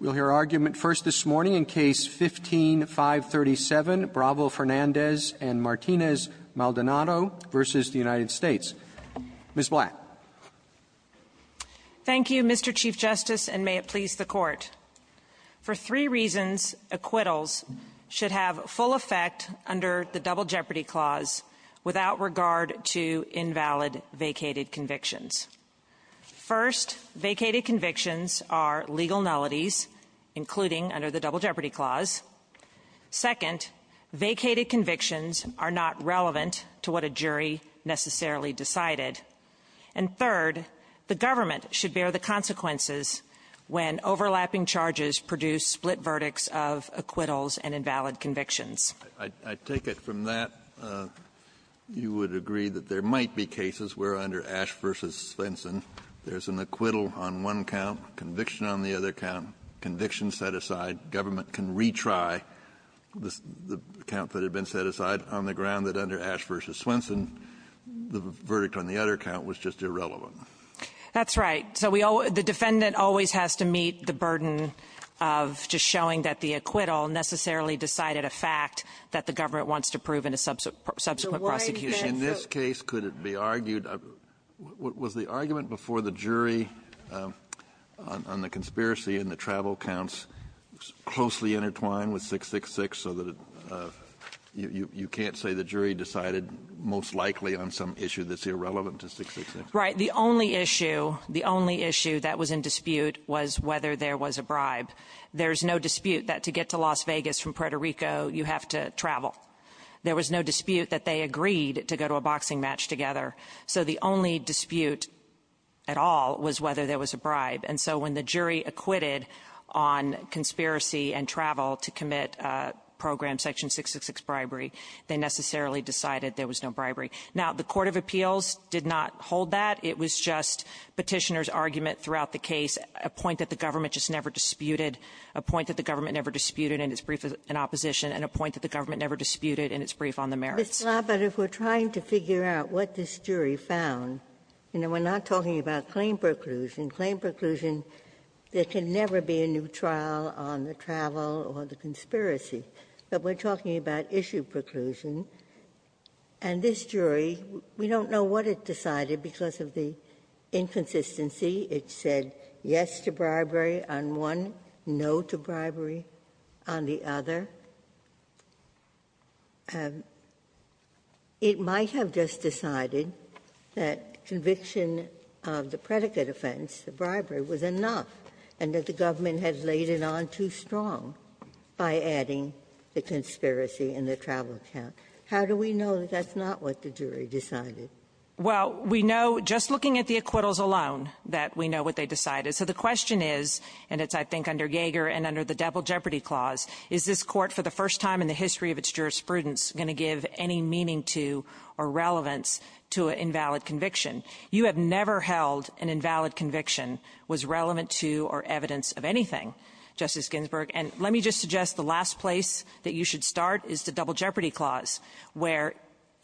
We'll hear argument first this morning in Case No. 15-537, Bravo-Fernandez v. Martinez-Maldonado v. United States. Ms. Black. Thank you, Mr. Chief Justice, and may it please the Court. For three reasons, acquittals should have full effect under the Double Jeopardy Clause without regard to invalid vacated convictions. First, vacated convictions are legal nullities, including under the Double Jeopardy Clause. Second, vacated convictions are not relevant to what a jury necessarily decided. And third, the government should bear the consequences when overlapping charges produce split verdicts of acquittals and invalid convictions. I take it from that, you would agree that there might be cases where under Ash v. Swenson there's an acquittal on one count, conviction on the other count, conviction set aside, government can retry the count that had been set aside on the ground that under Ash v. Swenson, the verdict on the other count was just irrelevant. That's right. So we always the defendant always has to meet the burden of just showing that the acquittal necessarily decided a fact that the government wants to prove in a subsequent prosecution. In this case, could it be argued, was the argument before the jury on the conspiracy and the travel counts closely intertwined with 666 so that you can't say the jury decided most likely on some issue that's irrelevant to 666? Right. The only issue, the only issue that was in dispute was whether there was a bribe. There's no dispute that to get to Las Vegas from Puerto Rico, you have to travel. There was no dispute that they agreed to go to a boxing match together. So the only dispute at all was whether there was a bribe. And so when the jury acquitted on conspiracy and travel to commit Program Section 666 bribery, they necessarily decided there was no bribery. Now, the court of appeals did not hold that. It was just Petitioner's argument throughout the case, a point that the government just never disputed, a point that the government never disputed in its brief in opposition, and a point that the government never disputed in its brief on the merits. Ginsburg. But if we're trying to figure out what this jury found, you know, we're not talking about claim preclusion. Claim preclusion, there can never be a new trial on the travel or the conspiracy. But we're talking about issue preclusion. And this jury, we don't know what it decided because of the inconsistency. It said yes to bribery on one, no to bribery on the other. It might have just decided that conviction of the predicate offense, the bribery, was enough and that the government had laid it on too strong by adding the conspiracy and the travel count. How do we know that that's not what the jury decided? Well, we know just looking at the acquittals alone that we know what they decided. So the question is, and it's, I think, under Gager and under the Double Jeopardy Clause, is this Court for the first time in the history of its jurisprudence going to give any meaning to or relevance to an invalid conviction? You have never held an invalid conviction was relevant to or evidence of anything, Justice Ginsburg. And let me just suggest the last place that you should start is the Double Jeopardy Clause, where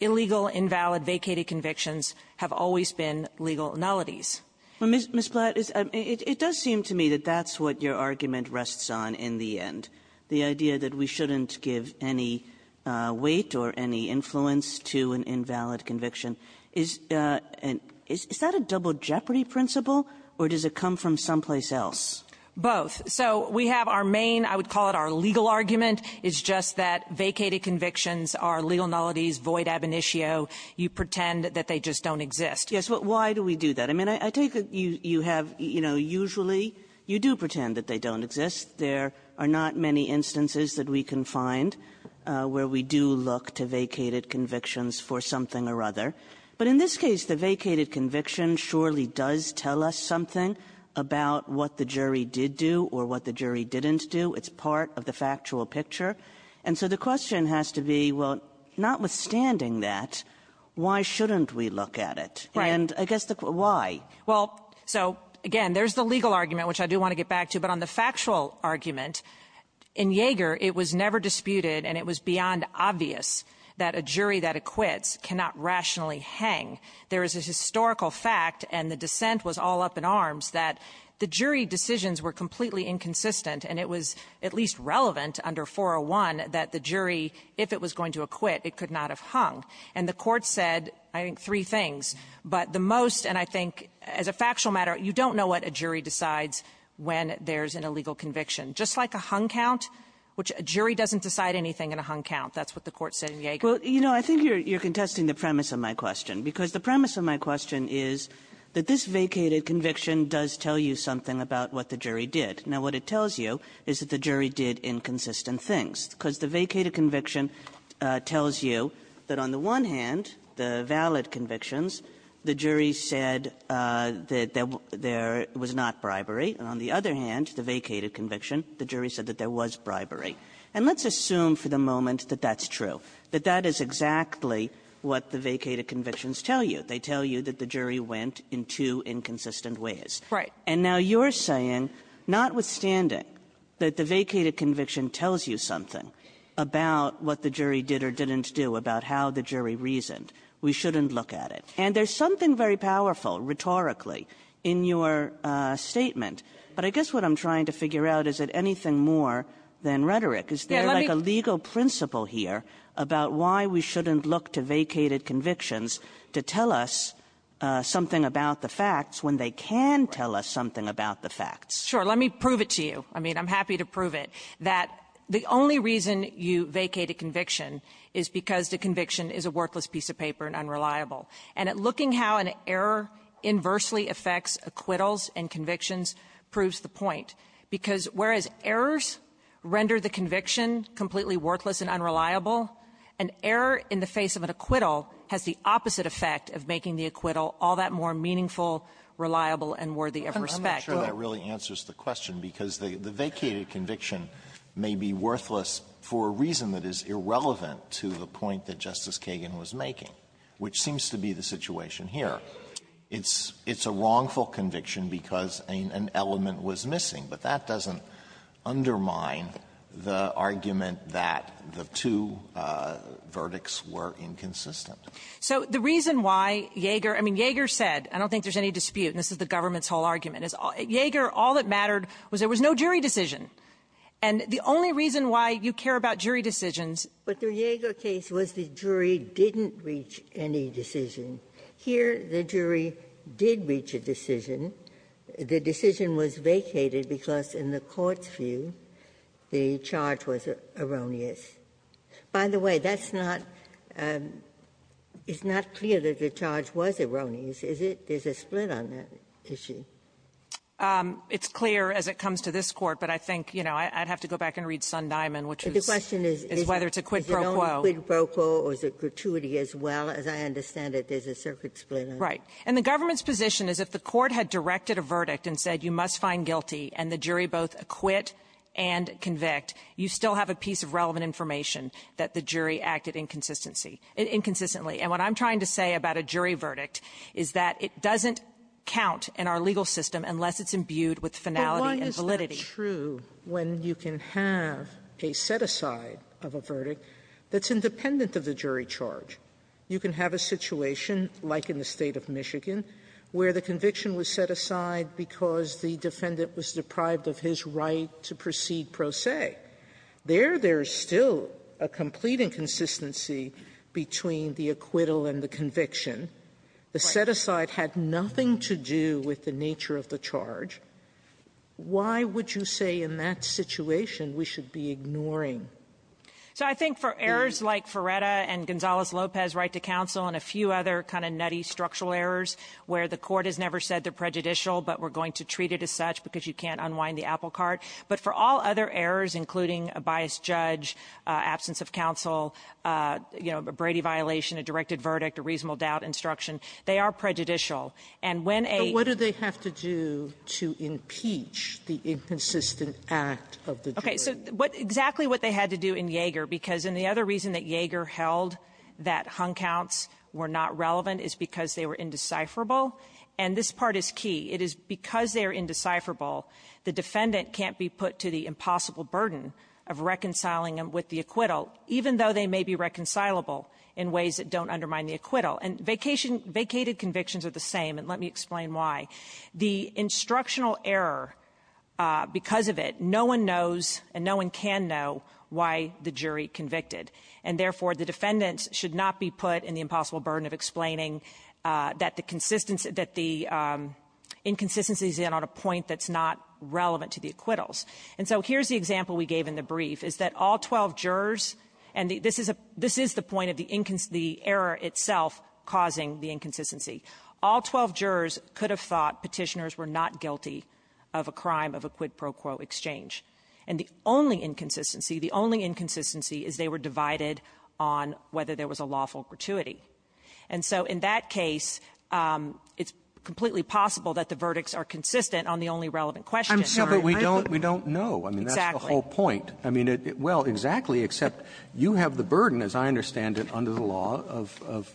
illegal, invalid, vacated convictions have always been legal nullities. Ms. Blatt, it does seem to me that that's what your argument rests on in the end, the idea that we shouldn't give any weight or any influence to an invalid conviction. Is that a Double Jeopardy principle, or does it come from someplace else? Both. So we have our main, I would call it our legal argument, is just that vacated convictions are legal nullities, void ab initio. You pretend that they just don't exist. Yes. But why do we do that? I mean, I take it you have, you know, usually you do pretend that they don't exist. There are not many instances that we can find where we do look to vacated convictions for something or other. But in this case, the vacated conviction surely does tell us something about what the jury did do or what the jury didn't do. It's part of the factual picture. And so the question has to be, well, notwithstanding that, why shouldn't we look at it? Right. And I guess the question, why? Well, so, again, there's the legal argument, which I do want to get back to. But on the factual argument, in Yeager, it was never disputed and it was beyond obvious that a jury that acquits cannot rationally hang. There is a historical fact, and the dissent was all up in arms, that the jury decisions were completely inconsistent and it was at least relevant under 401 that the jury, if it was going to acquit, it could not have hung. And the Court said, I think, three things. But the most, and I think as a factual matter, you don't know what a jury decides when there's an illegal conviction. Just like a hung count, which a jury doesn't decide anything in a hung count. That's what the Court said in Yeager. Kagan. Well, you know, I think you're contesting the premise of my question, because the premise of my question is that this vacated conviction does tell you something about what the jury did. Now, what it tells you is that the jury did inconsistent things, because the vacated conviction tells you that on the one hand, the valid convictions, the jury said that there was not bribery. And on the other hand, the vacated conviction, the jury said that there was bribery. And let's assume for the moment that that's true, that that is exactly what the vacated convictions tell you. They tell you that the jury went in two inconsistent ways. Right. And now you're saying, notwithstanding, that the vacated conviction tells you something about what the jury did or didn't do, about how the jury reasoned. We shouldn't look at it. And there's something very powerful, rhetorically, in your statement. But I guess what I'm trying to figure out, is it anything more than rhetoric? Is there, like, a legal principle here about why we shouldn't look to vacated convictions to tell us something about the facts when they can tell us something about the facts? Sure. Let me prove it to you. I mean, I'm happy to prove it, that the only reason you vacated conviction is because the conviction is a worthless piece of paper and unreliable. And at looking how an error inversely affects acquittals and convictions proves the point. Because whereas errors render the conviction completely worthless and unreliable, an error in the face of an acquittal has the opposite effect of making the acquittal all that more meaningful, reliable, and worthy of respect. I'm not sure that really answers the question, because the vacated conviction may be worthless for a reason that is irrelevant to the point that Justice Kagan was making, which seems to be the situation here. It's a wrongful conviction because an element was missing. But that doesn't undermine the argument that the two verdicts were inconsistent. So the reason why Yeager – I mean, Yeager said – I don't think there's any dispute, and this is the government's whole argument – is Yeager, all that mattered was there was no jury decision. And the only reason why you care about jury decisions – Ginsburg's case was the jury didn't reach any decision. Here, the jury did reach a decision. The decision was vacated because, in the Court's view, the charge was erroneous. By the way, that's not – it's not clear that the charge was erroneous, is it? There's a split on that issue. It's clear as it comes to this Court, but I think, you know, I'd have to go back and read Sun-Diamond, which is whether it's a quid pro quo. Ginsburg's question is, is it only quid pro quo, or is it gratuity as well? As I understand it, there's a circuit split on it. Right. And the government's position is if the Court had directed a verdict and said you must find guilty and the jury both acquit and convict, you still have a piece of relevant information that the jury acted inconsistency – inconsistently. And what I'm trying to say about a jury verdict is that it doesn't count in our legal system unless it's imbued with finality and validity. Sotomayor, it's only true when you can have a set-aside of a verdict that's independent of the jury charge. You can have a situation, like in the State of Michigan, where the conviction was set aside because the defendant was deprived of his right to proceed pro se. There, there's still a complete inconsistency between the acquittal and the conviction. The set-aside had nothing to do with the nature of the charge. Why would you say in that situation we should be ignoring? So I think for errors like Ferretta and Gonzales-Lopez right to counsel and a few other kind of nutty structural errors where the Court has never said they're prejudicial, but we're going to treat it as such because you can't unwind the apple cart. But for all other errors, including a biased judge, absence of counsel, you know, a Brady violation, a directed verdict, a reasonable doubt instruction, they are prejudicial. And when a – Sotomayor, what did they have to do to impeach the inconsistent act of the jury? Okay. So what – exactly what they had to do in Yeager, because in the other reason that Yeager held that hung counts were not relevant is because they were indecipherable. And this part is key. It is because they are indecipherable, the defendant can't be put to the impossible burden of reconciling them with the acquittal, even though they may be reconcilable in ways that don't undermine the acquittal. And vacation – vacated convictions are the same, and let me explain why. The instructional error, because of it, no one knows and no one can know why the jury convicted, and therefore, the defendants should not be put in the impossible burden of explaining that the consistency – that the inconsistency is in on a point that's not relevant to the acquittals. And so here's the example we gave in the brief, is that all 12 jurors – and this is a – this is the point of the error itself causing the inconsistency. All 12 jurors could have thought Petitioners were not guilty of a crime of a quid pro quo exchange. And the only inconsistency, the only inconsistency, is they were divided on whether there was a lawful gratuity. And so in that case, it's completely possible that the verdicts are consistent on the only relevant question. Robertson, I'm sorry, I don't think we don't know. I mean, that's the whole point. I mean, well, exactly, except you have the burden, as I understand it, under the law of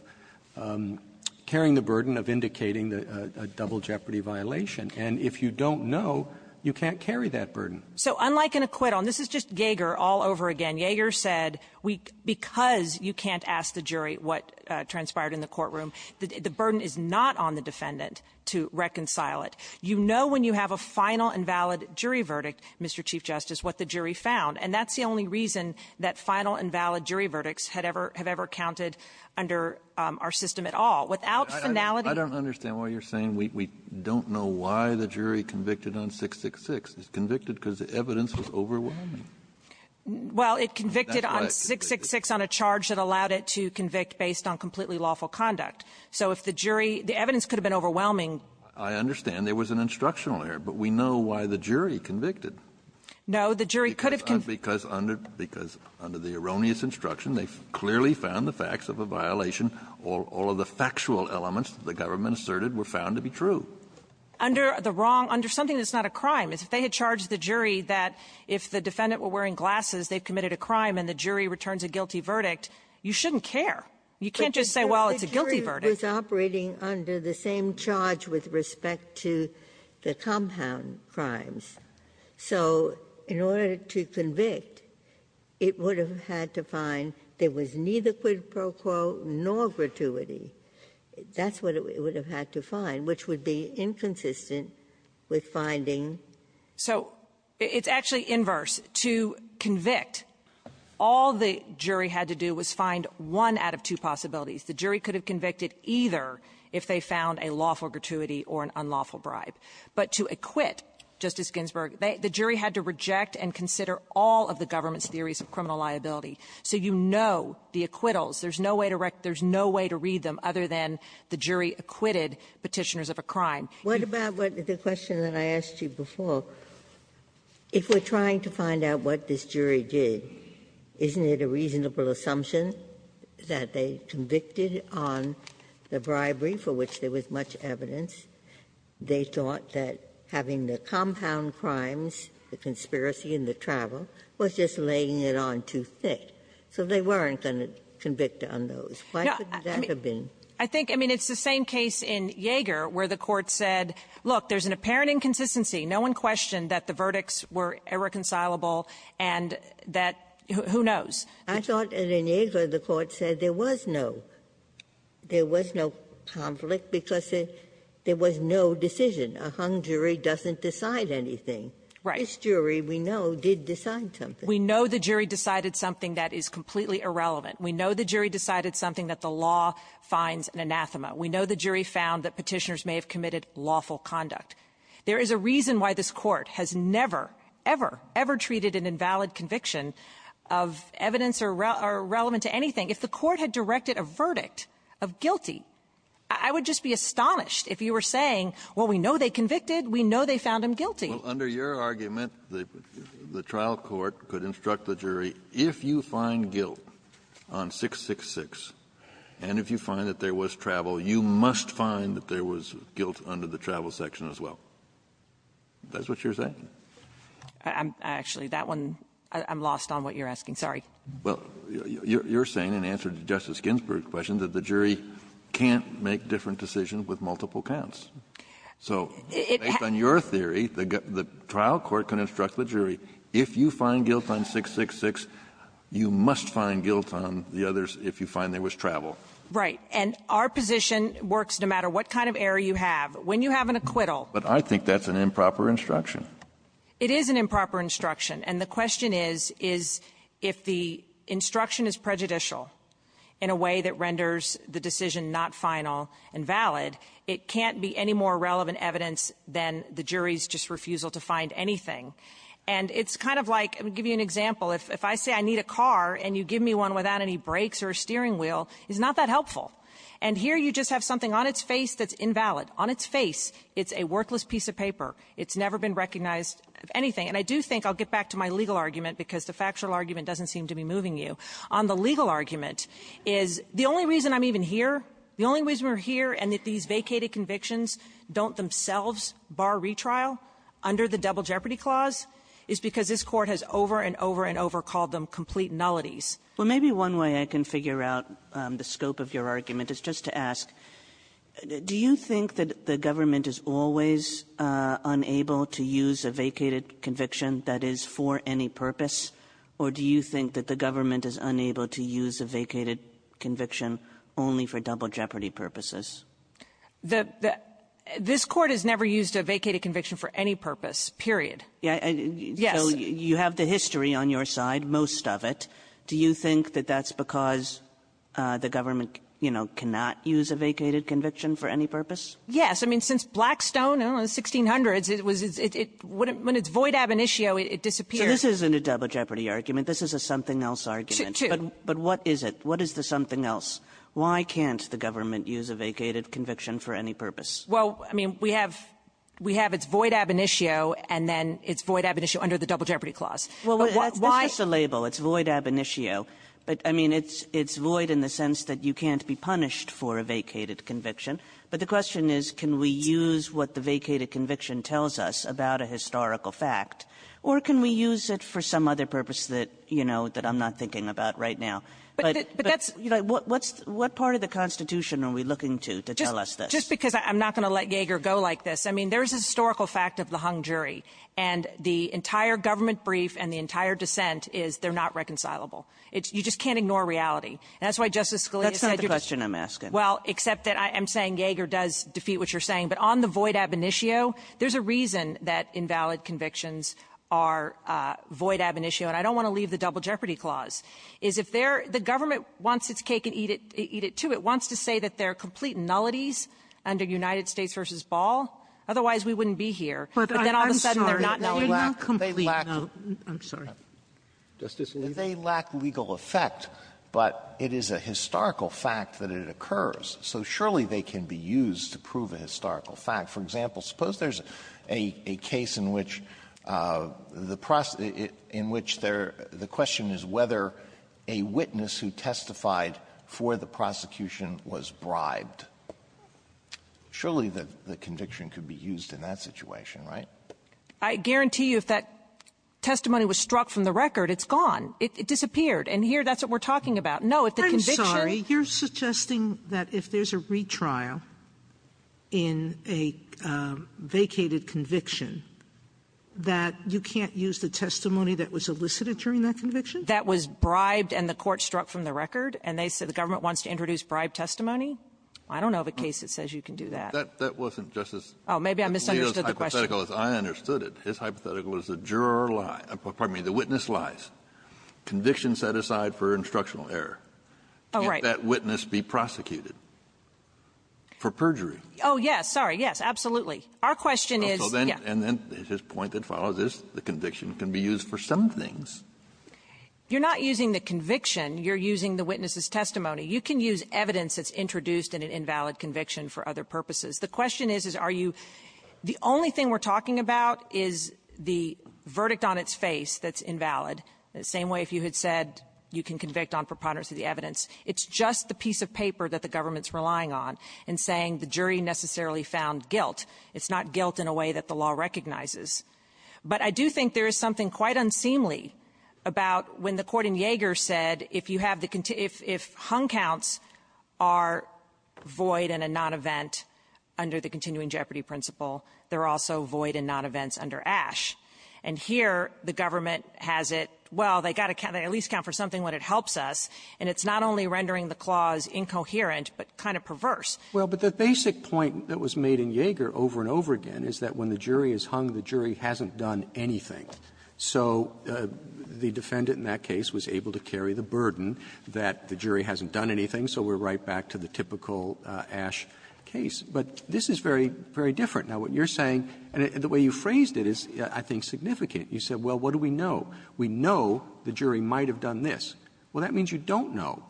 carrying the burden of indicating a double jeopardy violation. And if you don't know, you can't carry that burden. So unlike an acquittal, and this is just Yeager all over again. Yeager said we – because you can't ask the jury what transpired in the courtroom, the burden is not on the defendant to reconcile it. You know when you have a final and valid jury verdict, Mr. Chief Justice, what the jury found. And that's the only reason that final and valid jury verdicts had ever – have ever counted under our system at all. Without finality – Kennedy, I don't understand why you're saying we don't know why the jury convicted on 666. It's convicted because the evidence was overwhelming. Well, it convicted on 666 on a charge that allowed it to convict based on completely lawful conduct. So if the jury – the evidence could have been overwhelming. I understand. There was an instructional error. But we know why the jury convicted. No. The jury could have – Because under – because under the erroneous instruction, they clearly found the facts of a violation. All of the factual elements the government asserted were found to be true. Under the wrong – under something that's not a crime. If they had charged the jury that if the defendant were wearing glasses, they've committed a crime, and the jury returns a guilty verdict, you shouldn't care. You can't just say, well, it's a guilty verdict. But the jury was operating under the same charge with respect to the compound crimes. So in order to convict, it would have had to find there was neither quid pro quo nor gratuity. That's what it would have had to find, which would be inconsistent with finding So it's actually inverse. To convict, all the jury had to do was find one out of two possibilities. The jury could have convicted either if they found a lawful gratuity or an unlawful bribe. But to acquit, Justice Ginsburg, the jury had to reject and consider all of the government's theories of criminal liability. So you know the acquittals. There's no way to read them other than the jury acquitted Petitioners of a Crime. Ginsburg. What about the question that I asked you before? If we're trying to find out what this jury did, isn't it a reasonable assumption that they convicted on the bribery, for which there was much evidence? They thought that having the compound crimes, the conspiracy and the travel, was just laying it on too thick. So they weren't going to convict on those. Why couldn't that have been? I think the same case in Yeager, where the Court said, look, there's an apparent inconsistency. No one questioned that the verdicts were irreconcilable and that who knows. I thought in Yeager, the Court said there was no conflict because there was no decision. A hung jury doesn't decide anything. Right. This jury, we know, did decide something. We know the jury decided something that is completely irrelevant. We know the jury decided something that the law finds an anathema. We know the jury found that Petitioners may have committed lawful conduct. There is a reason why this Court has never, ever, ever treated an invalid conviction of evidence or relevant to anything. If the Court had directed a verdict of guilty, I would just be astonished if you were saying, well, we know they convicted. We know they found him guilty. Kennedy, under your argument, the trial court could instruct the jury, if you find guilt on 666, and if you find that there was travel, you must find that there was guilt under the travel section as well. Is that what you're saying? Actually, that one, I'm lost on what you're asking. Sorry. Well, you're saying, in answer to Justice Ginsburg's question, that the jury can't make different decisions with multiple counts. So based on your theory, the trial court can instruct the jury, if you find guilt on 666, you must find guilt on the others if you find there was travel. Right. And our position works no matter what kind of error you have. When you have an acquittal ---- But I think that's an improper instruction. It is an improper instruction. And the question is, is if the instruction is prejudicial in a way that renders the decision not final and valid, it can't be any more relevant evidence than the jury's just refusal to find anything. And it's kind of like, I'll give you an example. If I say I need a car and you give me one without any brakes or a steering wheel, it's not that helpful. And here you just have something on its face that's invalid. On its face, it's a worthless piece of paper. It's never been recognized of anything. And I do think, I'll get back to my legal argument, because the factual argument doesn't seem to be moving you. On the legal argument, is the only reason I'm even here, the only reason we're here and that these vacated convictions don't themselves bar retrial under the Double Jeopardy Clause is because this Court has over and over and over called them complete nullities. Well, maybe one way I can figure out the scope of your argument is just to ask, do you think that the government is always unable to use a vacated conviction that is for any purpose, or do you think that the government is unable to use a vacated conviction only for double jeopardy purposes? The — this Court has never used a vacated conviction for any purpose, period. Yes. So you have the history on your side, most of it. Do you think that that's because the government, you know, cannot use a vacated conviction for any purpose? Yes. I mean, since Blackstone in the 1600s, it was — when it's void ab initio, it disappears. So this isn't a double jeopardy argument. This is a something else argument. Two. But what is it? What is the something else? Why can't the government use a vacated conviction for any purpose? Well, I mean, we have — we have it's void ab initio, and then it's void ab initio under the Double Jeopardy Clause. Well, why — It's just a label. It's void ab initio. But, I mean, it's void in the sense that you can't be punished for a vacated conviction. But the question is, can we use what the vacated conviction tells us about a historical fact, or can we use it for some other purpose that, you know, that I'm not thinking about right now? But that's — What part of the Constitution are we looking to, to tell us this? Just because I'm not going to let Yeager go like this. I mean, there's a historical fact of the hung jury, and the entire government brief and the entire dissent is they're not reconcilable. It's — you just can't ignore reality. And that's why Justice Scalia said you're just — That's not the question I'm asking. Well, except that I'm saying Yeager does defeat what you're saying. But on the void ab initio, there's a reason that invalid convictions are void ab initio. And I don't want to leave the Double Jeopardy Clause, is if they're — the government wants its cake and eat it — eat it, too. It wants to say that they're complete nullities under United States v. Ball. Otherwise, we wouldn't be here. But then all of a sudden, they're not nullities. But I'm sorry, but they're not complete nullities. I'm sorry. Justice Alito. They lack legal effect, but it is a historical fact that it occurs. So surely, they can be used to prove a historical fact. For example, suppose there's a case in which the — in which the question is whether a witness who testified for the prosecution was bribed. Surely, the conviction could be used in that situation, right? I guarantee you if that testimony was struck from the record, it's gone. It disappeared. And here, that's what we're talking about. No, if the conviction — Sotomayor, you're suggesting that if there's a retrial in a vacated conviction, that you can't use the testimony that was elicited during that conviction? That was bribed and the court struck from the record, and they said the government wants to introduce bribed testimony? I don't know of a case that says you can do that. That wasn't, Justice — Oh, maybe I misunderstood the question. Alito's hypothetical is I understood it. His hypothetical is the juror lies — pardon me, the witness lies. Conviction set aside for instructional error. Oh, right. Can't that witness be prosecuted for perjury? Oh, yes. Sorry. Yes, absolutely. Our question is — Oh, so then — Yeah. And then his point that follows is the conviction can be used for some things. You're not using the conviction. You're using the witness's testimony. You can use evidence that's introduced in an invalid conviction for other purposes. The question is, is, are you — the only thing we're talking about is the verdict on its face that's invalid, the same way if you had said you can convict on preponderance of the evidence. It's just the piece of paper that the government's relying on in saying the jury necessarily found guilt. It's not guilt in a way that the law recognizes. But I do think there is something quite unseemly about when the court in Yeager said, if you have the — if hung counts are void and a non-event under the continuing jeopardy principle, they're also void and non-events under Ashe. And here, the government has it, well, they got to count — they at least count for something when it helps us. And it's not only rendering the clause incoherent, but kind of perverse. Well, but the basic point that was made in Yeager over and over again is that when the jury is hung, the jury hasn't done anything. So the defendant in that case was able to carry the burden that the jury hasn't done anything, so we're right back to the typical Ashe case. But this is very, very different. Now, what you're saying, and the way you phrased it is, I think, significant. You said, well, what do we know? We know the jury might have done this. Well, that means you don't know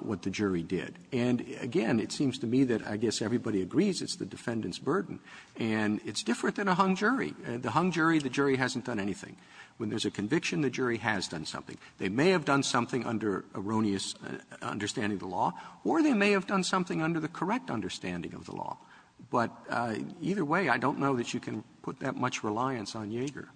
what the jury did. And again, it seems to me that I guess everybody agrees it's the defendant's burden. And it's different than a hung jury. The hung jury, the jury hasn't done anything. When there's a conviction, the jury has done something. They may have done something under erroneous understanding of the law, or they may have done something under the correct understanding of the law. But either way, I don't know that you can put that much reliance on Yeager.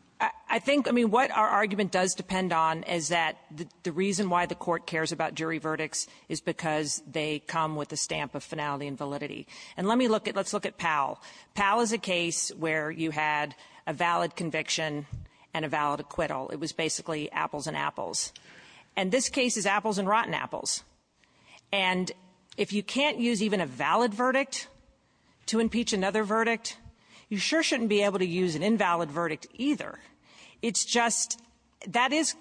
I think — I mean, what our argument does depend on is that the reason why the court cares about jury verdicts is because they come with a stamp of finality and validity. And let me look at — let's look at Powell. Powell is a case where you had a valid conviction and a valid acquittal. It was basically apples and apples. And this case is apples and rotten apples. And if you can't use even a valid verdict to impeach another verdict, you sure shouldn't be able to use an invalid verdict either. It's just — that is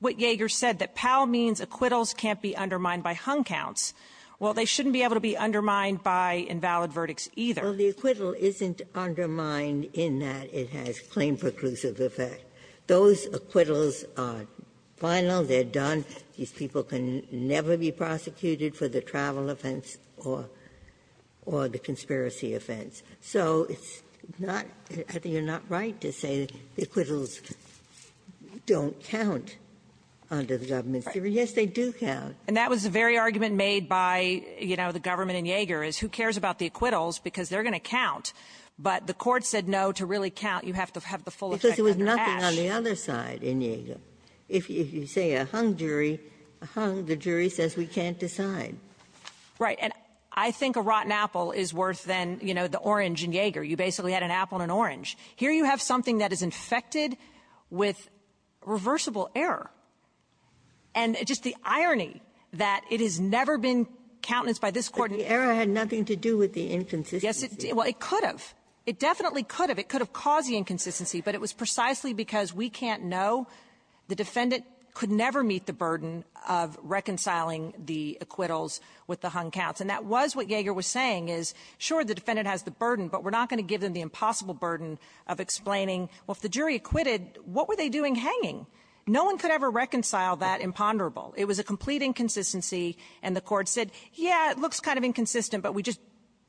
what Yeager said, that Powell means acquittals can't be undermined by hung counts. Well, they shouldn't be able to be undermined by invalid verdicts either. Ginsburg. Well, the acquittal isn't undermined in that it has claim preclusive effect. Those acquittals are final. They're done. These people can never be prosecuted for the travel offense or — or the conspiracy offense. So it's not — I think you're not right to say that acquittals don't count under the government's jury. Yes, they do count. And that was the very argument made by, you know, the government in Yeager, is who cares about the acquittals because they're going to count. But the Court said no. To really count, you have to have the full effect under Ash. Because there was nothing on the other side in Yeager. If you say a hung jury, a hung, the jury says we can't decide. Right. And I think a rotten apple is worth, then, you know, the orange in Yeager. You basically had an apple and an orange. Here you have something that is infected with reversible error. And just the irony that it has never been countenanced by this Court. But the error had nothing to do with the inconsistency. Yes, it did. Well, it could have. It definitely could have. It could have caused the inconsistency. But it was precisely because we can't know. The defendant could never meet the burden of reconciling the acquittals with the hung counts. And that was what Yeager was saying, is, sure, the defendant has the burden, but we're not going to give them the impossible burden of explaining, well, if the No one could ever reconcile that imponderable. It was a complete inconsistency. And the Court said, yeah, it looks kind of inconsistent, but we're just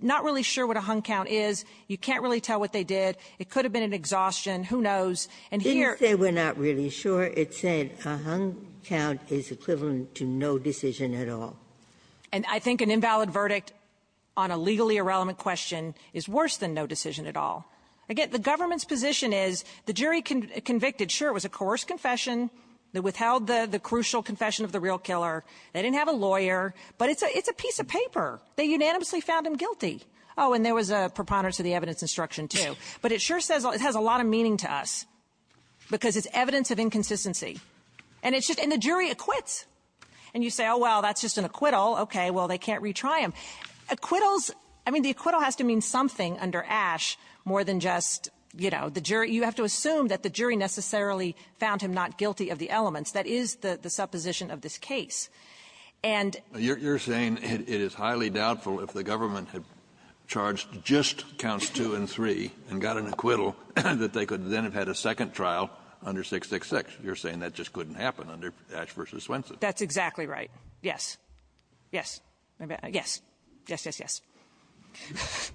not really sure what a hung count is. You can't really tell what they did. It could have been an exhaustion. Who knows? And here — Didn't say we're not really sure. It said a hung count is equivalent to no decision at all. And I think an invalid verdict on a legally irrelevant question is worse than no decision at all. Again, the government's position is the jury convicted. Sure, it was a coerced confession. They withheld the crucial confession of the real killer. They didn't have a lawyer. But it's a piece of paper. They unanimously found him guilty. Oh, and there was a preponderance of the evidence instruction, too. But it sure says — it has a lot of meaning to us, because it's evidence of inconsistency. And it's just — and the jury acquits. And you say, oh, well, that's just an acquittal. Okay. Well, they can't retry him. Acquittals — I mean, the acquittal has to mean something under Ashe more than just, you know, the jury. You have to assume that the jury necessarily found him not guilty of the elements. That is the supposition of this case. And — You're saying it is highly doubtful if the government had charged just counts 2 and 3 and got an acquittal, that they could then have had a second trial under 666. You're saying that just couldn't happen under Ashe v. Swenson. That's exactly right. Yes. Yes. Yes. Yes, yes, yes.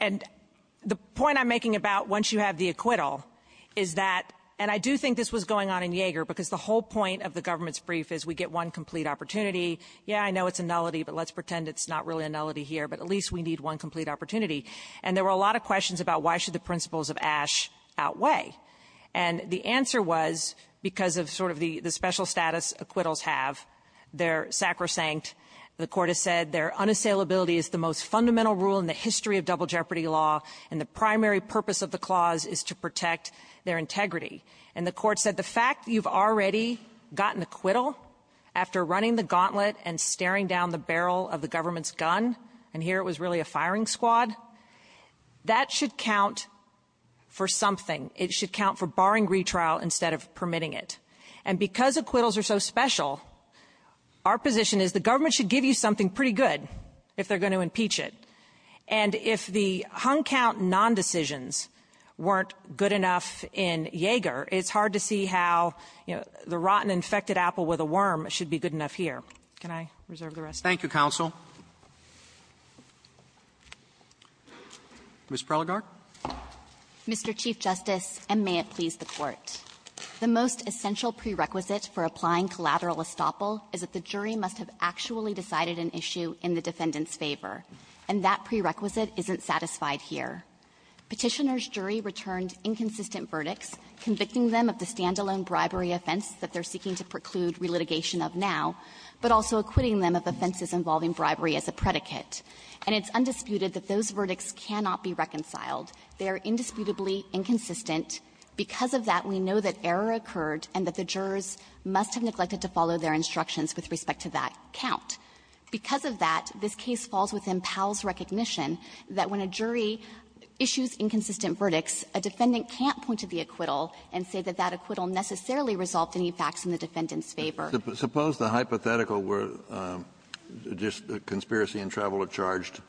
And the point I'm making about once you have the acquittal is that — and I do think this was going on in Yeager, because the whole point of the government's brief is we get one complete opportunity. Yeah, I know it's a nullity, but let's pretend it's not really a nullity here, but at least we need one complete opportunity. And there were a lot of questions about why should the principles of Ashe outweigh. And the answer was because of sort of the special status acquittals have. They're sacrosanct. The Court has said their unassailability is the most fundamental rule in the history of double jeopardy law, and the primary purpose of the clause is to protect their integrity. And the Court said the fact that you've already gotten acquittal after running the gauntlet and staring down the barrel of the government's gun — and here it was really a firing squad — that should count for something. It should count for barring retrial instead of permitting it. And because acquittals are so special, our position is the government should give you something pretty good if they're going to impeach it. And if the hung count non-decisions weren't good enough in Yeager, it's hard to see how, you know, the rotten, infected apple with a worm should be good enough here. Can I reserve the rest of my time? Roberts. Thank you, counsel. Ms. Prelogar. Mr. Chief Justice, and may it please the Court. The most essential prerequisite for applying collateral estoppel is that the jury must have actually decided an issue in the defendant's favor, and that prerequisite isn't satisfied here. Petitioner's jury returned inconsistent verdicts, convicting them of the standalone bribery offense that they're seeking to preclude relitigation of now, but also acquitting them of offenses involving bribery as a predicate. And it's undisputed that those verdicts cannot be reconciled. They are indisputably inconsistent. Because of that, we know that error occurred and that the jurors must have neglected to follow their instructions with respect to that count. Because of that, this case falls within Powell's recognition that when a jury issues inconsistent verdicts, a defendant can't point to the acquittal and say that that acquittal necessarily resolved any facts in the defendant's favor. Kennedy. Suppose the hypothetical were just conspiracy and travel are charged,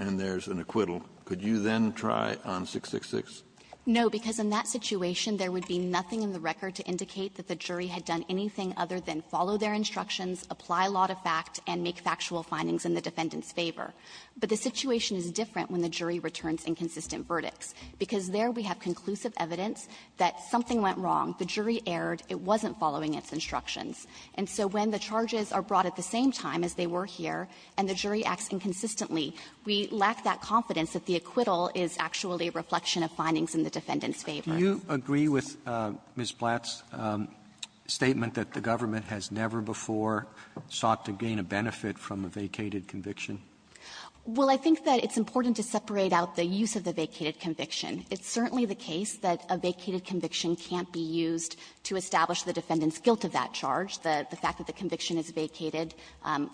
and there's an acquittal, could you then try on 666? No, because in that situation, there would be nothing in the record to indicate that the jury had done anything other than follow their instructions, apply a lot of fact, and make factual findings in the defendant's favor. But the situation is different when the jury returns inconsistent verdicts, because there we have conclusive evidence that something went wrong, the jury erred, it wasn't following its instructions. And so when the charges are brought at the same time as they were here, and the jury acts inconsistently, we lack that confidence that the acquittal is actually a reflection of findings in the defendant's favor. Do you agree with Ms. Blatt's statement that the government has never before sought to gain a benefit from a vacated conviction? Well, I think that it's important to separate out the use of the vacated conviction. It's certainly the case that a vacated conviction can't be used to establish the defendant's guilt of that charge. The fact that the conviction is vacated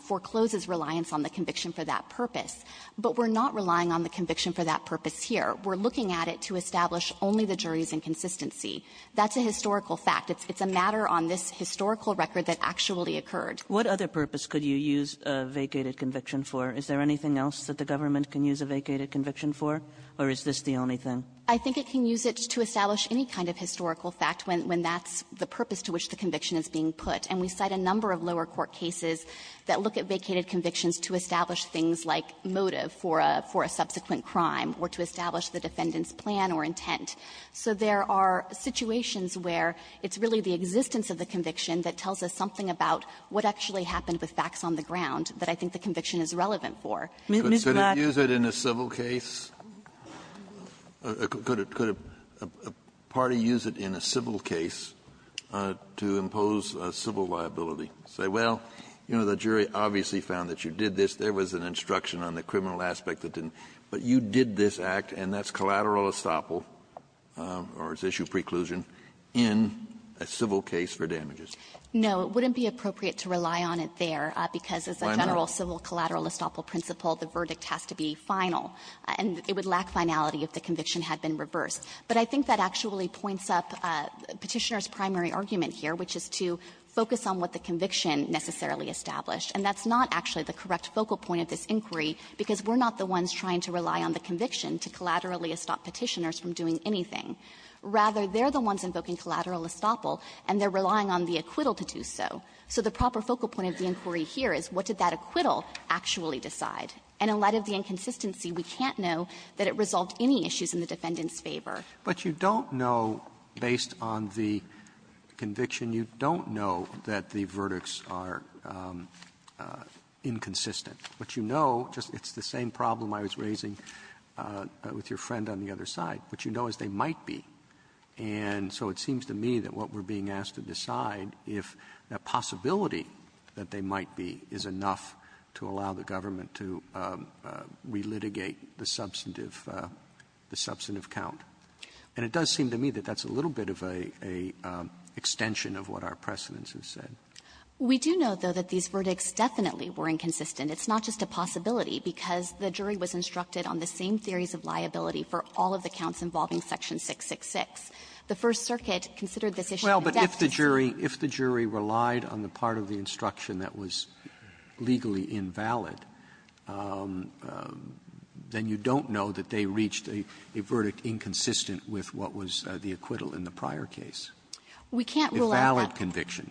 forecloses reliance on the conviction for that purpose. But we're not relying on the conviction for that purpose here. We're looking at it to establish only the jury's inconsistency. That's a historical fact. It's a matter on this historical record that actually occurred. What other purpose could you use a vacated conviction for? Is there anything else that the government can use a vacated conviction for? Or is this the only thing? I think it can use it to establish any kind of historical fact when that's the purpose to which the conviction is being put. And we cite a number of lower court cases that look at vacated convictions to establish things like motive for a subsequent crime or to establish the defendant's plan or intent. So there are situations where it's really the existence of the conviction that tells us something about what actually happened with facts on the ground that I think the conviction is relevant for. Ms. Blatt. Kennedy, could you use it in a civil case? Could a party use it in a civil case to impose a civil liability? Say, well, you know, the jury obviously found that you did this. There was an instruction on the criminal aspect that didn't. But you did this act, and that's collateral estoppel, or it's issue preclusion, in a civil case for damages. No. It wouldn't be appropriate to rely on it there, because as a general civil collateral estoppel principle, the verdict has to be final. And it would lack finality if the conviction had been reversed. But I think that actually points up Petitioner's primary argument here, which is to focus on what the conviction necessarily established. And that's not actually the correct focal point of this inquiry, because we're not the ones trying to rely on the conviction to collaterally stop Petitioners from doing anything. Rather, they're the ones invoking collateral estoppel, and they're relying on the acquittal to do so. So the proper focal point of the inquiry here is, what did that acquittal actually decide? And in light of the inconsistency, we can't know that it resolved any issues in the defendant's favor. Roberts, but you don't know, based on the conviction, you don't know that the verdicts are inconsistent. What you know, just it's the same problem I was raising with your friend on the other side. What you know is they might be. And so it seems to me that what we're being asked to decide, if that possibility that they might be is enough to allow the government to relitigate the substantive count. And it does seem to me that that's a little bit of a extension of what our precedents have said. We do know, though, that these verdicts definitely were inconsistent. It's not just a possibility, because the jury was instructed on the same theories of liability for all of the counts involving Section 666. The First Circuit considered this issue. Roberts, but if the jury relied on the part of the instruction that was legally invalid, then you don't know that they reached a verdict inconsistent with what was the acquittal in the prior case. We can't rule out that. Valid conviction.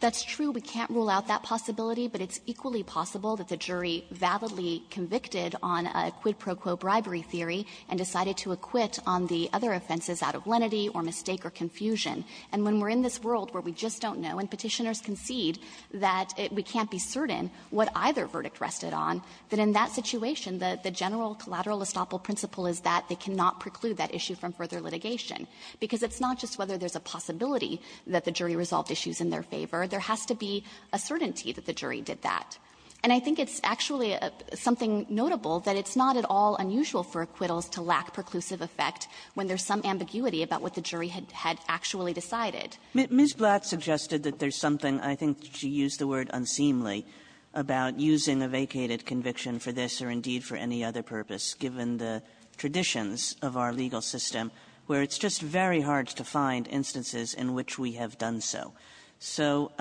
That's true. We can't rule out that possibility, but it's equally possible that the jury validly convicted on a quid pro quo bribery theory and decided to acquit on the other offenses out of lenity or mistake or confusion. And when we're in this world where we just don't know and Petitioners concede that we can't be certain what either verdict rested on, that in that situation the general collateral estoppel principle is that they cannot preclude that issue from further litigation. Because it's not just whether there's a possibility that the jury resolved issues in their favor. There has to be a certainty that the jury did that. And I think it's actually something notable that it's not at all unusual for acquittals to lack preclusive effect when there's some ambiguity about what the jury had actually decided. Kagan. Ms. Blatt suggested that there's something, I think she used the word unseemly, about using a vacated conviction for this or indeed for any other purpose, given the traditions of our legal system, where it's just very hard to find instances in which we have done so. So,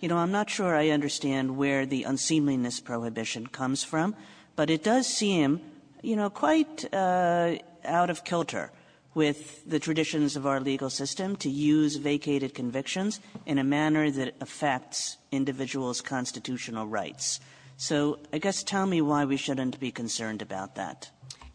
you know, I'm not sure I understand where the unseemliness prohibition comes from, but it does seem, you know, quite out of kilter with the traditions of our legal system to use vacated convictions in a manner that affects individuals' constitutional rights. So I guess tell me why we shouldn't be concerned about that.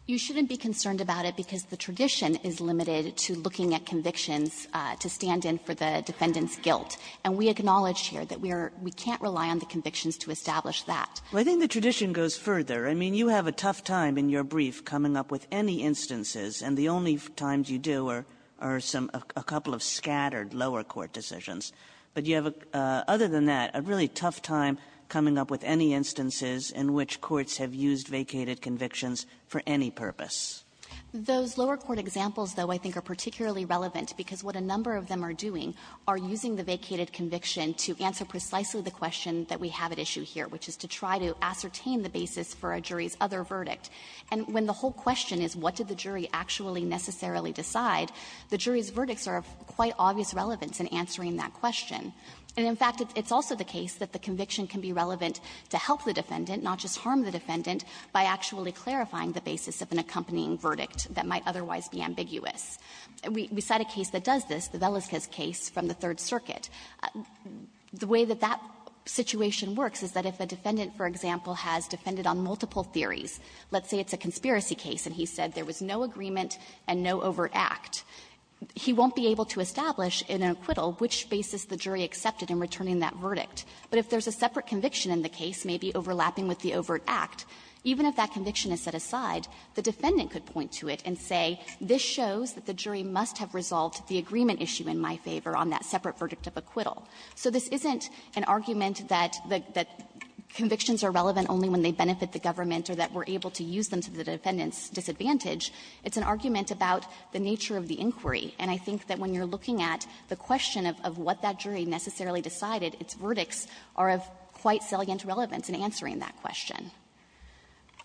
You shouldn't be concerned about it because the tradition is limited to looking at convictions to stand in for the defendant's guilt. And we acknowledge here that we are we can't rely on the convictions to establish that. Kagan. Well, I think the tradition goes further. I mean, you have a tough time in your brief coming up with any instances, and the only times you do are some a couple of scattered lower court decisions. But you have, other than that, a really tough time coming up with any instances in which courts have used vacated convictions for any purpose. Those lower court examples, though, I think are particularly relevant because what a number of them are doing are using the vacated conviction to answer precisely the question that we have at issue here, which is to try to ascertain the basis for a jury's other verdict. And when the whole question is what did the jury actually necessarily decide, the jury's verdicts are of quite obvious relevance in answering that question. And, in fact, it's also the case that the conviction can be relevant to help the defendant, not just harm the defendant, by actually clarifying the basis of an accompanying verdict that might otherwise be ambiguous. We cite a case that does this, the Velasquez case from the Third Circuit. The way that that situation works is that if a defendant, for example, has defended on multiple theories, let's say it's a conspiracy case and he said there was no agreement and no overact, he won't be able to establish in an acquittal which basis the jury accepted in returning that verdict. But if there's a separate conviction in the case, maybe overlapping with the overt act, even if that conviction is set aside, the defendant could point to it and say, this shows that the jury must have resolved the agreement issue in my favor on that separate verdict of acquittal. So this isn't an argument that the convictions are relevant only when they benefit the government or that we're able to use them to the defendant's disadvantage. It's an argument about the nature of the inquiry. And I think that when you're looking at the question of what that jury necessarily decided, its verdicts are of quite salient relevance in answering that question.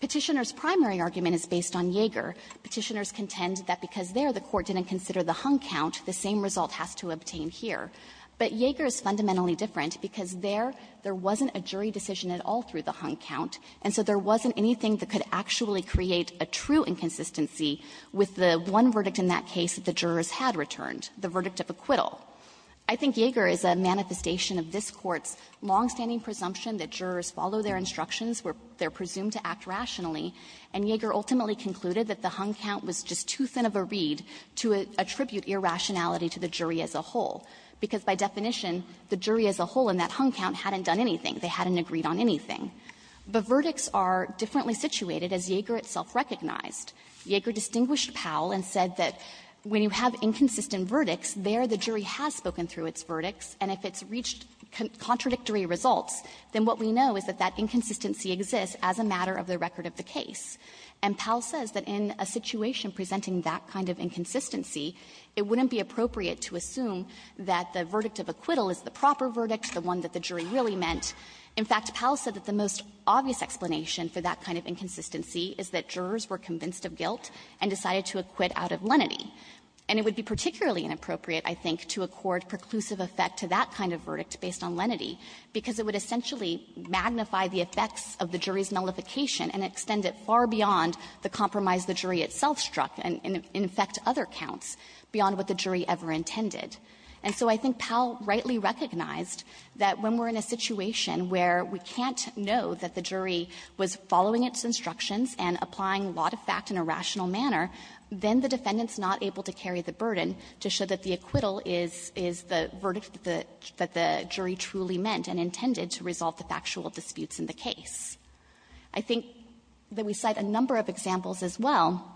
Petitioner's primary argument is based on Yeager. Petitioners contend that because there the Court didn't consider the hung count, the same result has to obtain here. But Yeager is fundamentally different because there, there wasn't a jury decision at all through the hung count, and so there wasn't anything that could actually create a true inconsistency with the one verdict in that case that the jurors had returned, the verdict of acquittal. I think Yeager is a manifestation of this Court's longstanding presumption that jurors follow their instructions where they're presumed to act rationally, and Yeager ultimately concluded that the hung count was just too thin of a reed to attribute irrationality to the jury as a whole, because by definition, the jury as a whole in that hung count hadn't done anything. They hadn't agreed on anything. The verdicts are differently situated, as Yeager itself recognized. Yeager distinguished Powell and said that when you have inconsistent verdicts, there the jury has spoken through its verdicts, and if it's reached contradictory results, then what we know is that that inconsistency exists as a matter of the record of the case. And Powell says that in a situation presenting that kind of inconsistency, it wouldn't be appropriate to assume that the verdict of acquittal is the proper verdict, the one that the jury really meant. In fact, Powell said that the most obvious explanation for that kind of inconsistency is that jurors were convinced of guilt and decided to acquit out of lenity. And it would be particularly inappropriate, I think, to accord preclusive effect to that kind of verdict based on lenity, because it would essentially magnify the effects of the jury's nullification and extend it far beyond the compromise the jury itself struck, and in effect, other counts beyond what the jury ever intended. And so I think Powell rightly recognized that when we're in a situation where we can't know that the jury was following its instructions and applying a lot of fact in a rational manner, then the defendant's not able to carry the burden to show that the acquittal is the verdict that the jury truly meant and intended to resolve the factual disputes in the case. I think that we cite a number of examples as well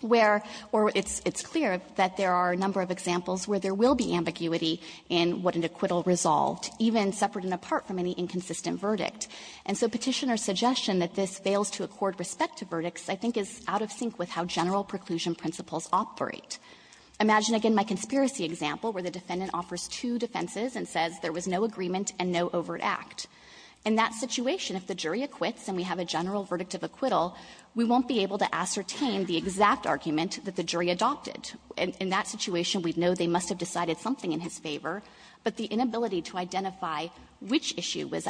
where or it's clear that there are a number of examples where there will be ambiguity in what an acquittal resolved, even separate and apart from any inconsistent verdict. And so Petitioner's suggestion that this fails to accord respect to verdicts, I think, is out of sync with how general preclusion principles operate. Imagine, again, my conspiracy example where the defendant offers two defenses and says there was no agreement and no overt act. In that situation, if the jury acquits and we have a general verdict of acquittal, we won't be able to ascertain the exact argument that the jury adopted. In that situation, we'd know they must have decided something in his favor, but the inability to identify which issue was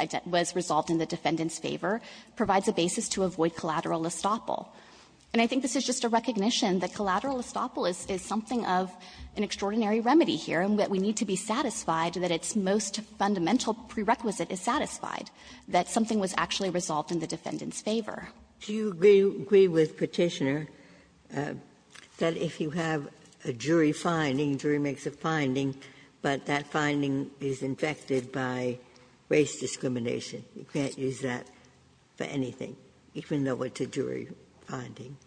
resolved in the defendant's favor provides a basis to avoid collateral estoppel. And I think this is just a recognition that collateral estoppel is something of an extraordinary remedy here and that we need to be satisfied that its most fundamental prerequisite is satisfied, that something was actually resolved in the defendant's favor. Ginsburg. Do you agree with Petitioner that if you have a jury finding, jury makes a finding, but that finding is infected by race discrimination, you can't use that for anything, even though it's a jury finding?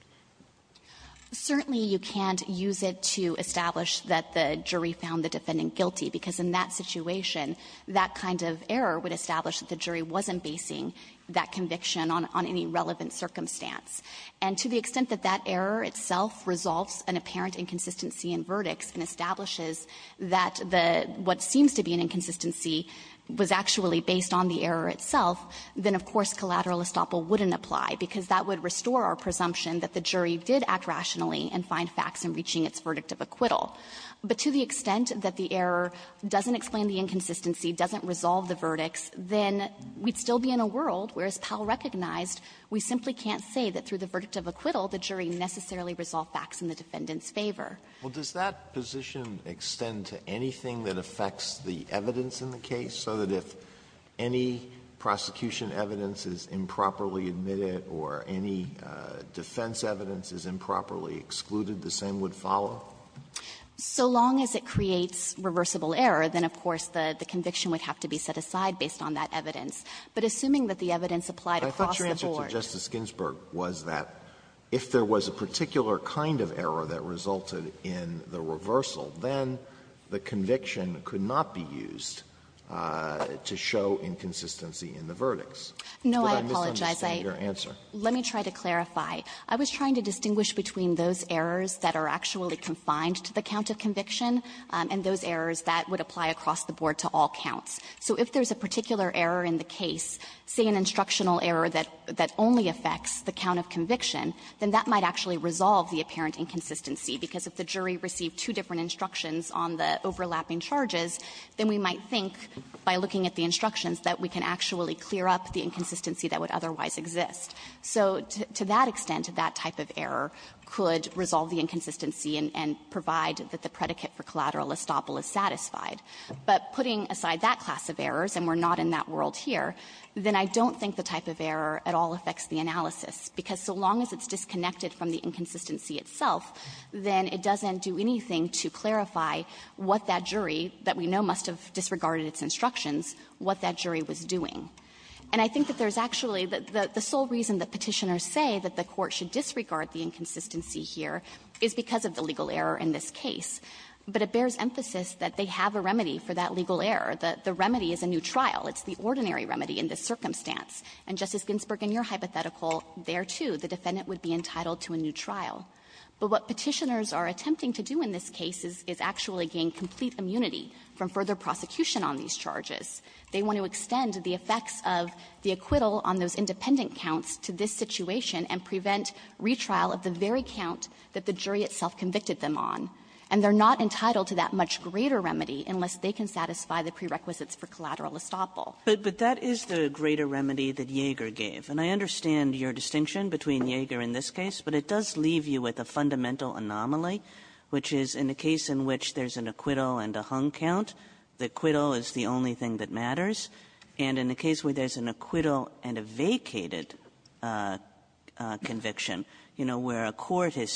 Certainly, you can't use it to establish that the jury found the defendant guilty, because in that situation, that kind of error would establish that the jury wasn't basing that conviction on any relevant circumstance. And to the extent that that error itself resolves an apparent inconsistency in verdicts and establishes that the what seems to be an inconsistency was actually based on the error itself, then, of course, collateral estoppel wouldn't apply, because that would restore our presumption that the jury did act rationally and find facts in reaching its verdict of acquittal. But to the extent that the error doesn't explain the inconsistency, doesn't resolve the verdicts, then we'd still be in a world where, as Powell recognized, we simply can't say that through the verdict of acquittal, the jury necessarily resolved facts in the defendant's favor. Alito, does that position extend to anything that affects the evidence in the case, so that if any prosecution evidence is improperly admitted or any defense evidence is improperly excluded, the same would follow? So long as it creates reversible error, then, of course, the conviction would have to be set aside based on that evidence. But assuming that the evidence applied across the board was that if there was a particular kind of error that resulted in the reversal, then the conviction could not be used to show inconsistency in the verdicts. But I misunderstand your answer. No, I apologize. Let me try to clarify. I was trying to distinguish between those errors that are actually confined to the count of conviction and those errors that would apply across the board to all counts. So if there's a particular error in the case, say an instructional error that only affects the count of conviction, then that might actually resolve the apparent inconsistency. Because if the jury received two different instructions on the overlapping charges, then we might think by looking at the instructions that we can actually clear up the inconsistency that would otherwise exist. So to that extent, that type of error could resolve the inconsistency and provide that the predicate for collateral estoppel is satisfied. But putting aside that class of errors, and we're not in that world here, then I don't think the type of error at all affects the analysis. Because so long as it's disconnected from the inconsistency itself, then it doesn't do anything to clarify what that jury that we know must have disregarded its instructions, what that jury was doing. And I think that there's actually the sole reason that Petitioners say that the Court should disregard the inconsistency here is because of the legal error in this case. But it bears emphasis that they have a remedy for that legal error. The remedy is a new trial. It's the ordinary remedy in this circumstance. And, Justice Ginsburg, in your hypothetical, there, too, the defendant would be entitled to a new trial. But what Petitioners are attempting to do in this case is actually gain complete immunity from further prosecution on these charges. They want to extend the effects of the acquittal on those independent counts to this situation and prevent retrial of the very count that the jury itself convicted them on. And they're not entitled to that much greater remedy unless they can satisfy the prerequisites for collateral estoppel. Kagan. But that is the greater remedy that Yeager gave. And I understand your distinction between Yeager and this case. But it does leave you with a fundamental anomaly, which is in a case in which there's an acquittal and a hung count, the acquittal is the only thing that matters. And in a case where there's an acquittal and a vacated conviction, you know, where a court and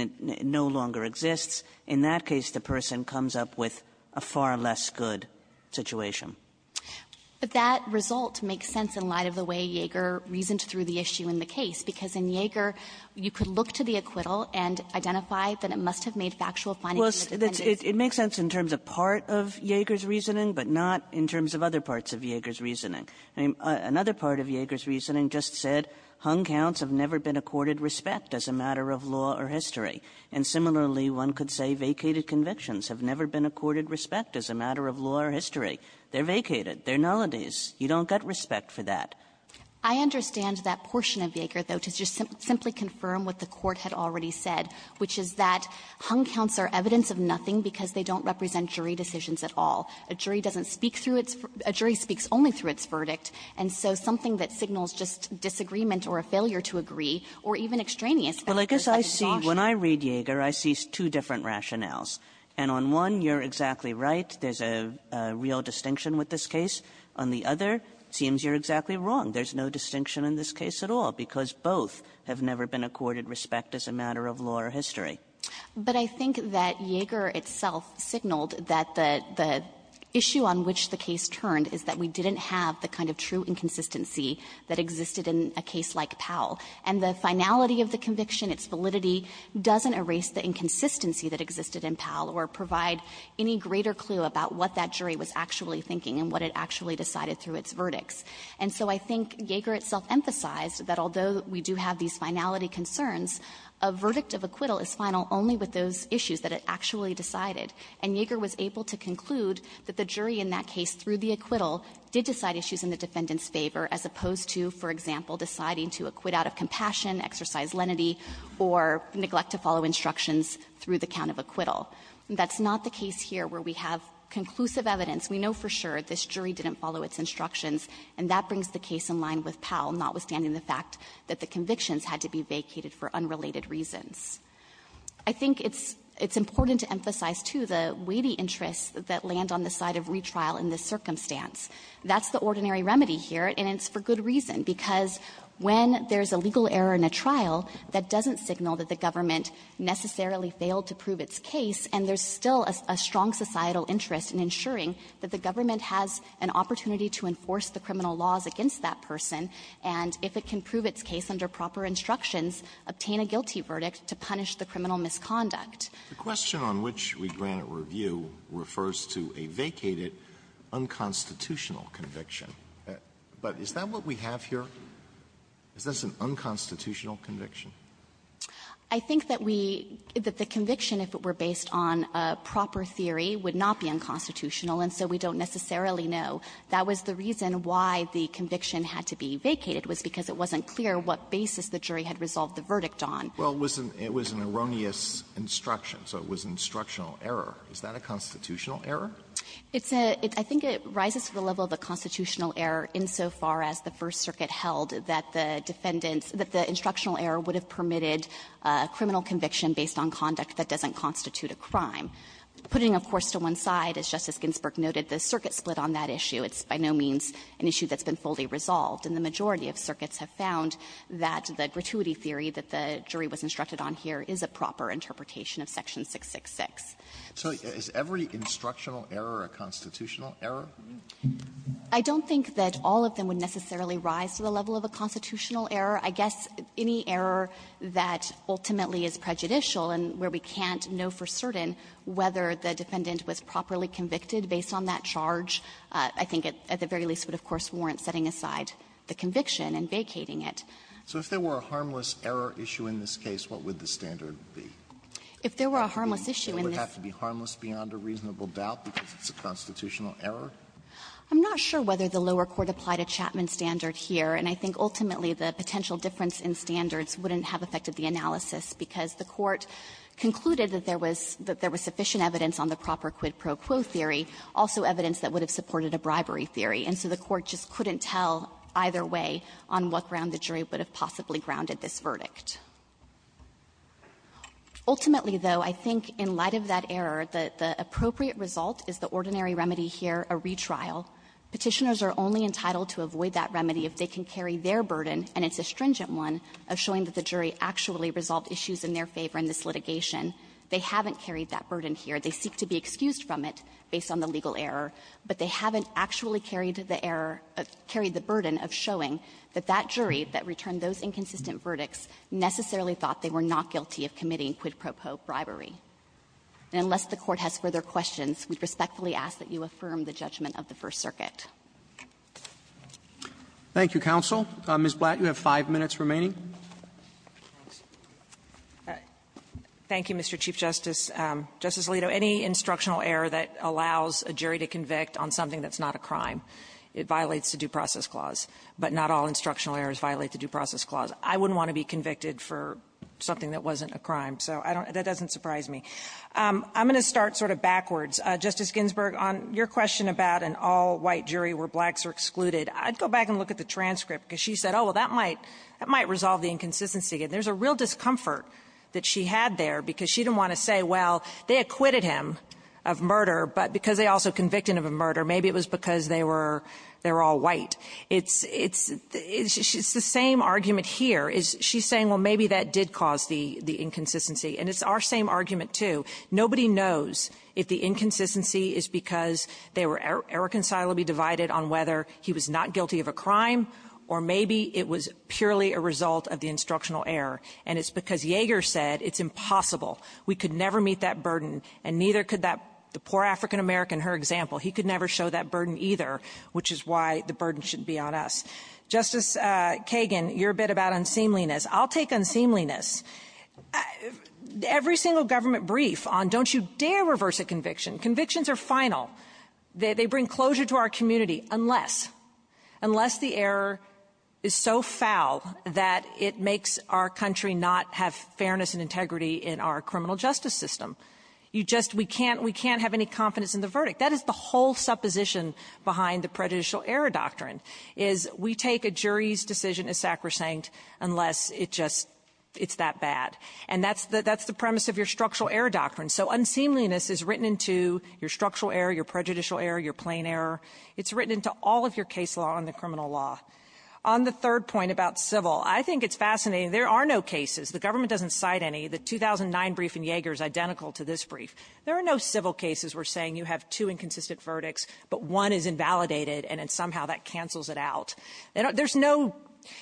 it no longer exists, in that case, the person comes up with a far less good situation. But that result makes sense in light of the way Yeager reasoned through the issue in the case, because in Yeager, you could look to the acquittal and identify that it must have made factual findings to the defendants. Well, it makes sense in terms of part of Yeager's reasoning, but not in terms of other parts of Yeager's reasoning. I mean, another part of Yeager's reasoning just said hung counts have never been accorded respect as a matter of law or history. And similarly, one could say vacated convictions have never been accorded respect as a matter of law or history. They're vacated. They're nullities. You don't get respect for that. I understand that portion of Yeager, though, to just simply confirm what the Court had already said, which is that hung counts are evidence of nothing because they don't represent jury decisions at all. A jury doesn't speak through its – a jury speaks only through its verdict. And so something that signals just disagreement or a failure to agree or even extraneous factors as exhausted results. Kagan when I read Yeager, I see two different rationales. And on one, you're exactly right. There's a real distinction with this case. On the other, it seems you're exactly wrong. There's no distinction in this case at all, because both have never been accorded respect as a matter of law or history. But I think that Yeager itself signaled that the issue on which the case turned is that we didn't have the kind of true inconsistency that existed in a case like Powell. And the finality of the conviction, its validity, doesn't erase the inconsistency that existed in Powell or provide any greater clue about what that jury was actually thinking and what it actually decided through its verdicts. And so I think Yeager itself emphasized that although we do have these finality concerns, a verdict of acquittal is final only with those issues that it actually decided. And Yeager was able to conclude that the jury in that case, through the acquittal, did decide issues in the defendant's favor as opposed to, for example, deciding to acquit out of compassion, exercise lenity, or neglect to follow instructions through the count of acquittal. That's not the case here where we have conclusive evidence. We know for sure this jury didn't follow its instructions, and that brings the case in line with Powell, notwithstanding the fact that the convictions had to be vacated for unrelated reasons. I think it's important to emphasize, too, the weighty interests that land on the side of retrial in this circumstance. That's the ordinary remedy here, and it's for good reason, because when there's a legal error in a trial, that doesn't signal that the government necessarily failed to prove its case, and there's still a strong societal interest in ensuring that the government has an opportunity to enforce the criminal laws against that person, and if it can prove its case under proper instructions, obtain a guilty verdict to punish the criminal misconduct. Alitoso, the question on which we grant a review refers to a vacated, unconstitutional conviction. But is that what we have here? Is this an unconstitutional conviction? I think that we – that the conviction, if it were based on a proper theory, would not be unconstitutional, and so we don't necessarily know. That was the reason why the conviction had to be vacated, was because it wasn't clear what basis the jury had resolved the verdict on. Alitoso, it was an erroneous instruction, so it was an instructional error. Is that a constitutional error? It's a – I think it rises to the level of a constitutional error insofar as the First Circuit held that the defendant's – that the instructional error would have permitted a criminal conviction based on conduct that doesn't constitute a crime. Putting, of course, to one side, as Justice Ginsburg noted, the circuit split on that issue. It's by no means an issue that's been fully resolved. And the majority of circuits have found that the gratuity theory that the jury was instructed on here is a proper interpretation of Section 666. So is every instructional error a constitutional error? I don't think that all of them would necessarily rise to the level of a constitutional error. I guess any error that ultimately is prejudicial and where we can't know for certain whether the defendant was properly convicted based on that charge, I think at the very least would, of course, warrant setting aside the conviction and vacating it. So if there were a harmless error issue in this case, what would the standard be? If there were a harmless issue in this… It would have to be harmless beyond a reasonable doubt because it's a constitutional error? I'm not sure whether the lower court applied a Chapman standard here. And I think ultimately, the potential difference in standards wouldn't have affected the analysis because the Court concluded that there was – that there was sufficient evidence on the proper quid pro quo theory, also evidence that would have supported a bribery theory. And so the Court just couldn't tell either way on what ground the jury would have possibly grounded this verdict. Ultimately, though, I think in light of that error, the appropriate result is the ordinary remedy here, a retrial. Petitioners are only entitled to avoid that remedy if they can carry their burden, and it's a stringent one, of showing that the jury actually resolved issues in their favor in this litigation. They haven't carried that burden here. They seek to be excused from it based on the legal error, but they haven't actually carried the error – carried the burden of showing that that jury that returned those inconsistent verdicts necessarily thought they were not guilty of committing quid pro quo bribery. And unless the Court has further questions, we respectfully ask that you affirm the judgment of the First Circuit. Roberts. Roberts. Thank you, counsel. Ms. Blatt, you have five minutes remaining. Blatt. Thank you, Mr. Chief Justice. Justice Alito, any instructional error that allows a jury to convict on something that's not a crime, it violates the Due Process Clause. But not all instructional errors violate the Due Process Clause. I wouldn't want to be convicted for something that wasn't a crime, so I don't – that doesn't surprise me. I'm going to start sort of backwards. Justice Ginsburg, on your question about an all-white jury where blacks are excluded, I'd go back and look at the transcript, because she said, oh, well, that might resolve the inconsistency. And there's a real discomfort that she had there, because she didn't want to say, well, they acquitted him of murder, but because they also convicted him of murder, maybe it was because they were – they were all white. It's – it's – it's the same argument here. She's saying, well, maybe that did cause the – the inconsistency. And it's our same argument, too. Nobody knows if the inconsistency is because they were irreconcilably divided on whether he was not guilty of a crime or maybe it was purely a result of the instructional error. And it's because Yeager said it's impossible. We could never meet that burden, and neither could that – the poor African-American, her example. He could never show that burden either, which is why the burden should be on us. Justice Kagan, you're a bit about unseemliness. I'll take unseemliness. Every single government brief on don't you dare reverse a conviction, convictions are final. They bring closure to our community unless – unless the error is so foul that it makes our country not have fairness and integrity in our criminal justice system. You just – we can't – we can't have any confidence in the verdict. That is the whole supposition behind the prejudicial error doctrine, is we take a jury's decision as sacrosanct unless it just – it's that bad. And that's the – that's the premise of your structural error doctrine. So unseemliness is written into your structural error, your prejudicial error, your plain error. It's written into all of your case law and the criminal law. On the third point about civil, I think it's fascinating. There are no cases. The government doesn't cite any. The 2009 brief in Yeager is identical to this brief. There are no civil cases where saying you have two inconsistent verdicts, but one is invalidated, and then somehow that cancels it out. There's no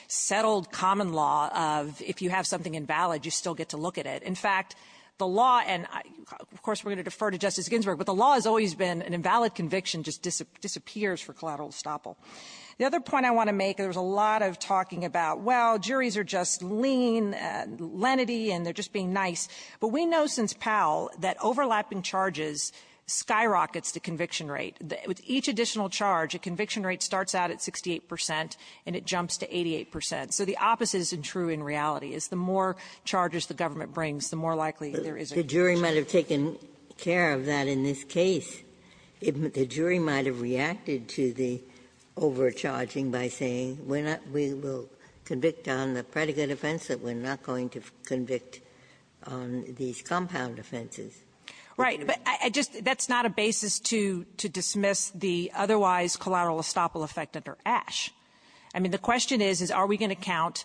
settled common law of if you have something invalid, you still get to look at it. In fact, the law – and, of course, we're going to defer to Justice Ginsburg, but the law has always been an invalid conviction just disappears for collateral estoppel. The other point I want to make, there was a lot of talking about, well, juries are just lean, lenity, and they're just being nice. But we know since Powell that overlapping charges skyrockets the conviction rate. With each additional charge, a conviction rate starts out at 68 percent, and it jumps to 88 percent. So the opposite is true in reality, is the more charges the government brings, the more likely there is a conviction. Ginsburg. The jury might have taken care of that in this case. The jury might have reacted to the overcharging by saying we're not – we will convict on the predicate offense, that we're not going to convict on these compound offenses. Right. But I just – that's not a basis to dismiss the otherwise collateral estoppel effect under Ashe. I mean, the question is, is are we going to count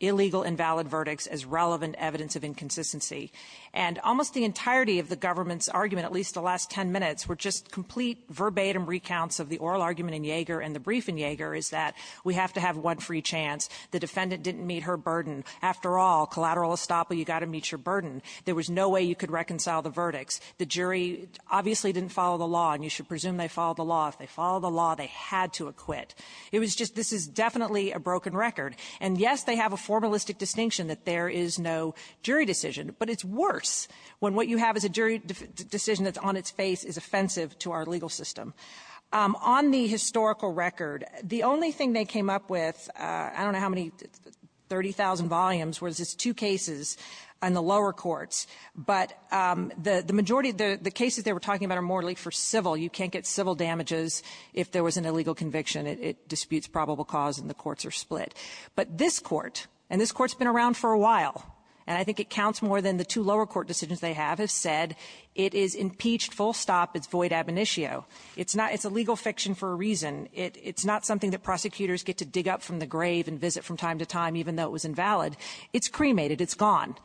illegal invalid verdicts as relevant evidence of inconsistency? And almost the entirety of the government's argument, at least the last ten minutes, were just complete verbatim recounts of the oral argument in Yeager and the brief in Yeager, is that we have to have one free chance. The defendant didn't meet her burden. After all, collateral estoppel, you've got to meet your burden. There was no way you could reconcile the verdicts. The jury obviously didn't follow the law, and you should presume they followed the law. If they followed the law, they had to acquit. It was just – this is definitely a broken record. And, yes, they have a formalistic distinction that there is no jury decision. But it's worse when what you have is a jury decision that's on its face is offensive to our legal system. On the historical record, the only thing they came up with – I don't know how many – 30,000 volumes – was just two cases on the lower courts. But the majority – the cases they were talking about are more for civil. You can't get civil damages if there was an illegal conviction. It disputes probable cause and the courts are split. But this Court, and this Court's been around for a while, and I think it counts more than the two lower court decisions they have, have said it is impeached full stop. It's void ab initio. It's not – it's a legal fiction for a reason. It's not something that prosecutors get to dig up from the grave and visit from time to time, even though it was invalid. It's cremated. It's gone.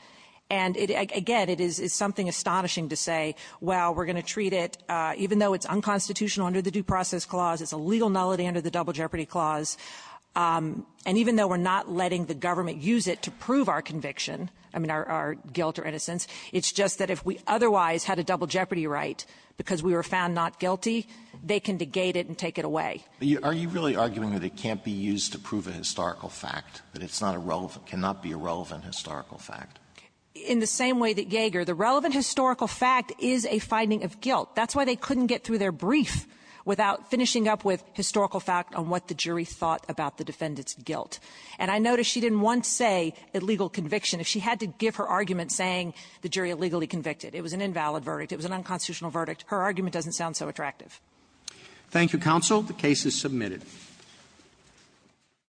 And, again, it is something astonishing to say, well, we're going to treat it, even though it's unconstitutional under the Due Process Clause, it's a legal nullity under the Double Jeopardy Clause. And even though we're not letting the government use it to prove our conviction, I mean, our guilt or innocence, it's just that if we otherwise had a double jeopardy right because we were found not guilty, they can negate it and take it away. Alito, are you really arguing that it can't be used to prove a historical fact, that it's not a relevant – cannot be a relevant historical fact? In the same way that Yeager, the relevant historical fact is a finding of guilt. That's why they couldn't get through their brief without finishing up with historical fact on what the jury thought about the defendant's guilt. And I notice she didn't once say illegal conviction. If she had to give her argument saying the jury illegally convicted, it was an invalid verdict. It was an unconstitutional verdict. Her argument doesn't sound so attractive. Roberts. Thank you, counsel. The case is submitted.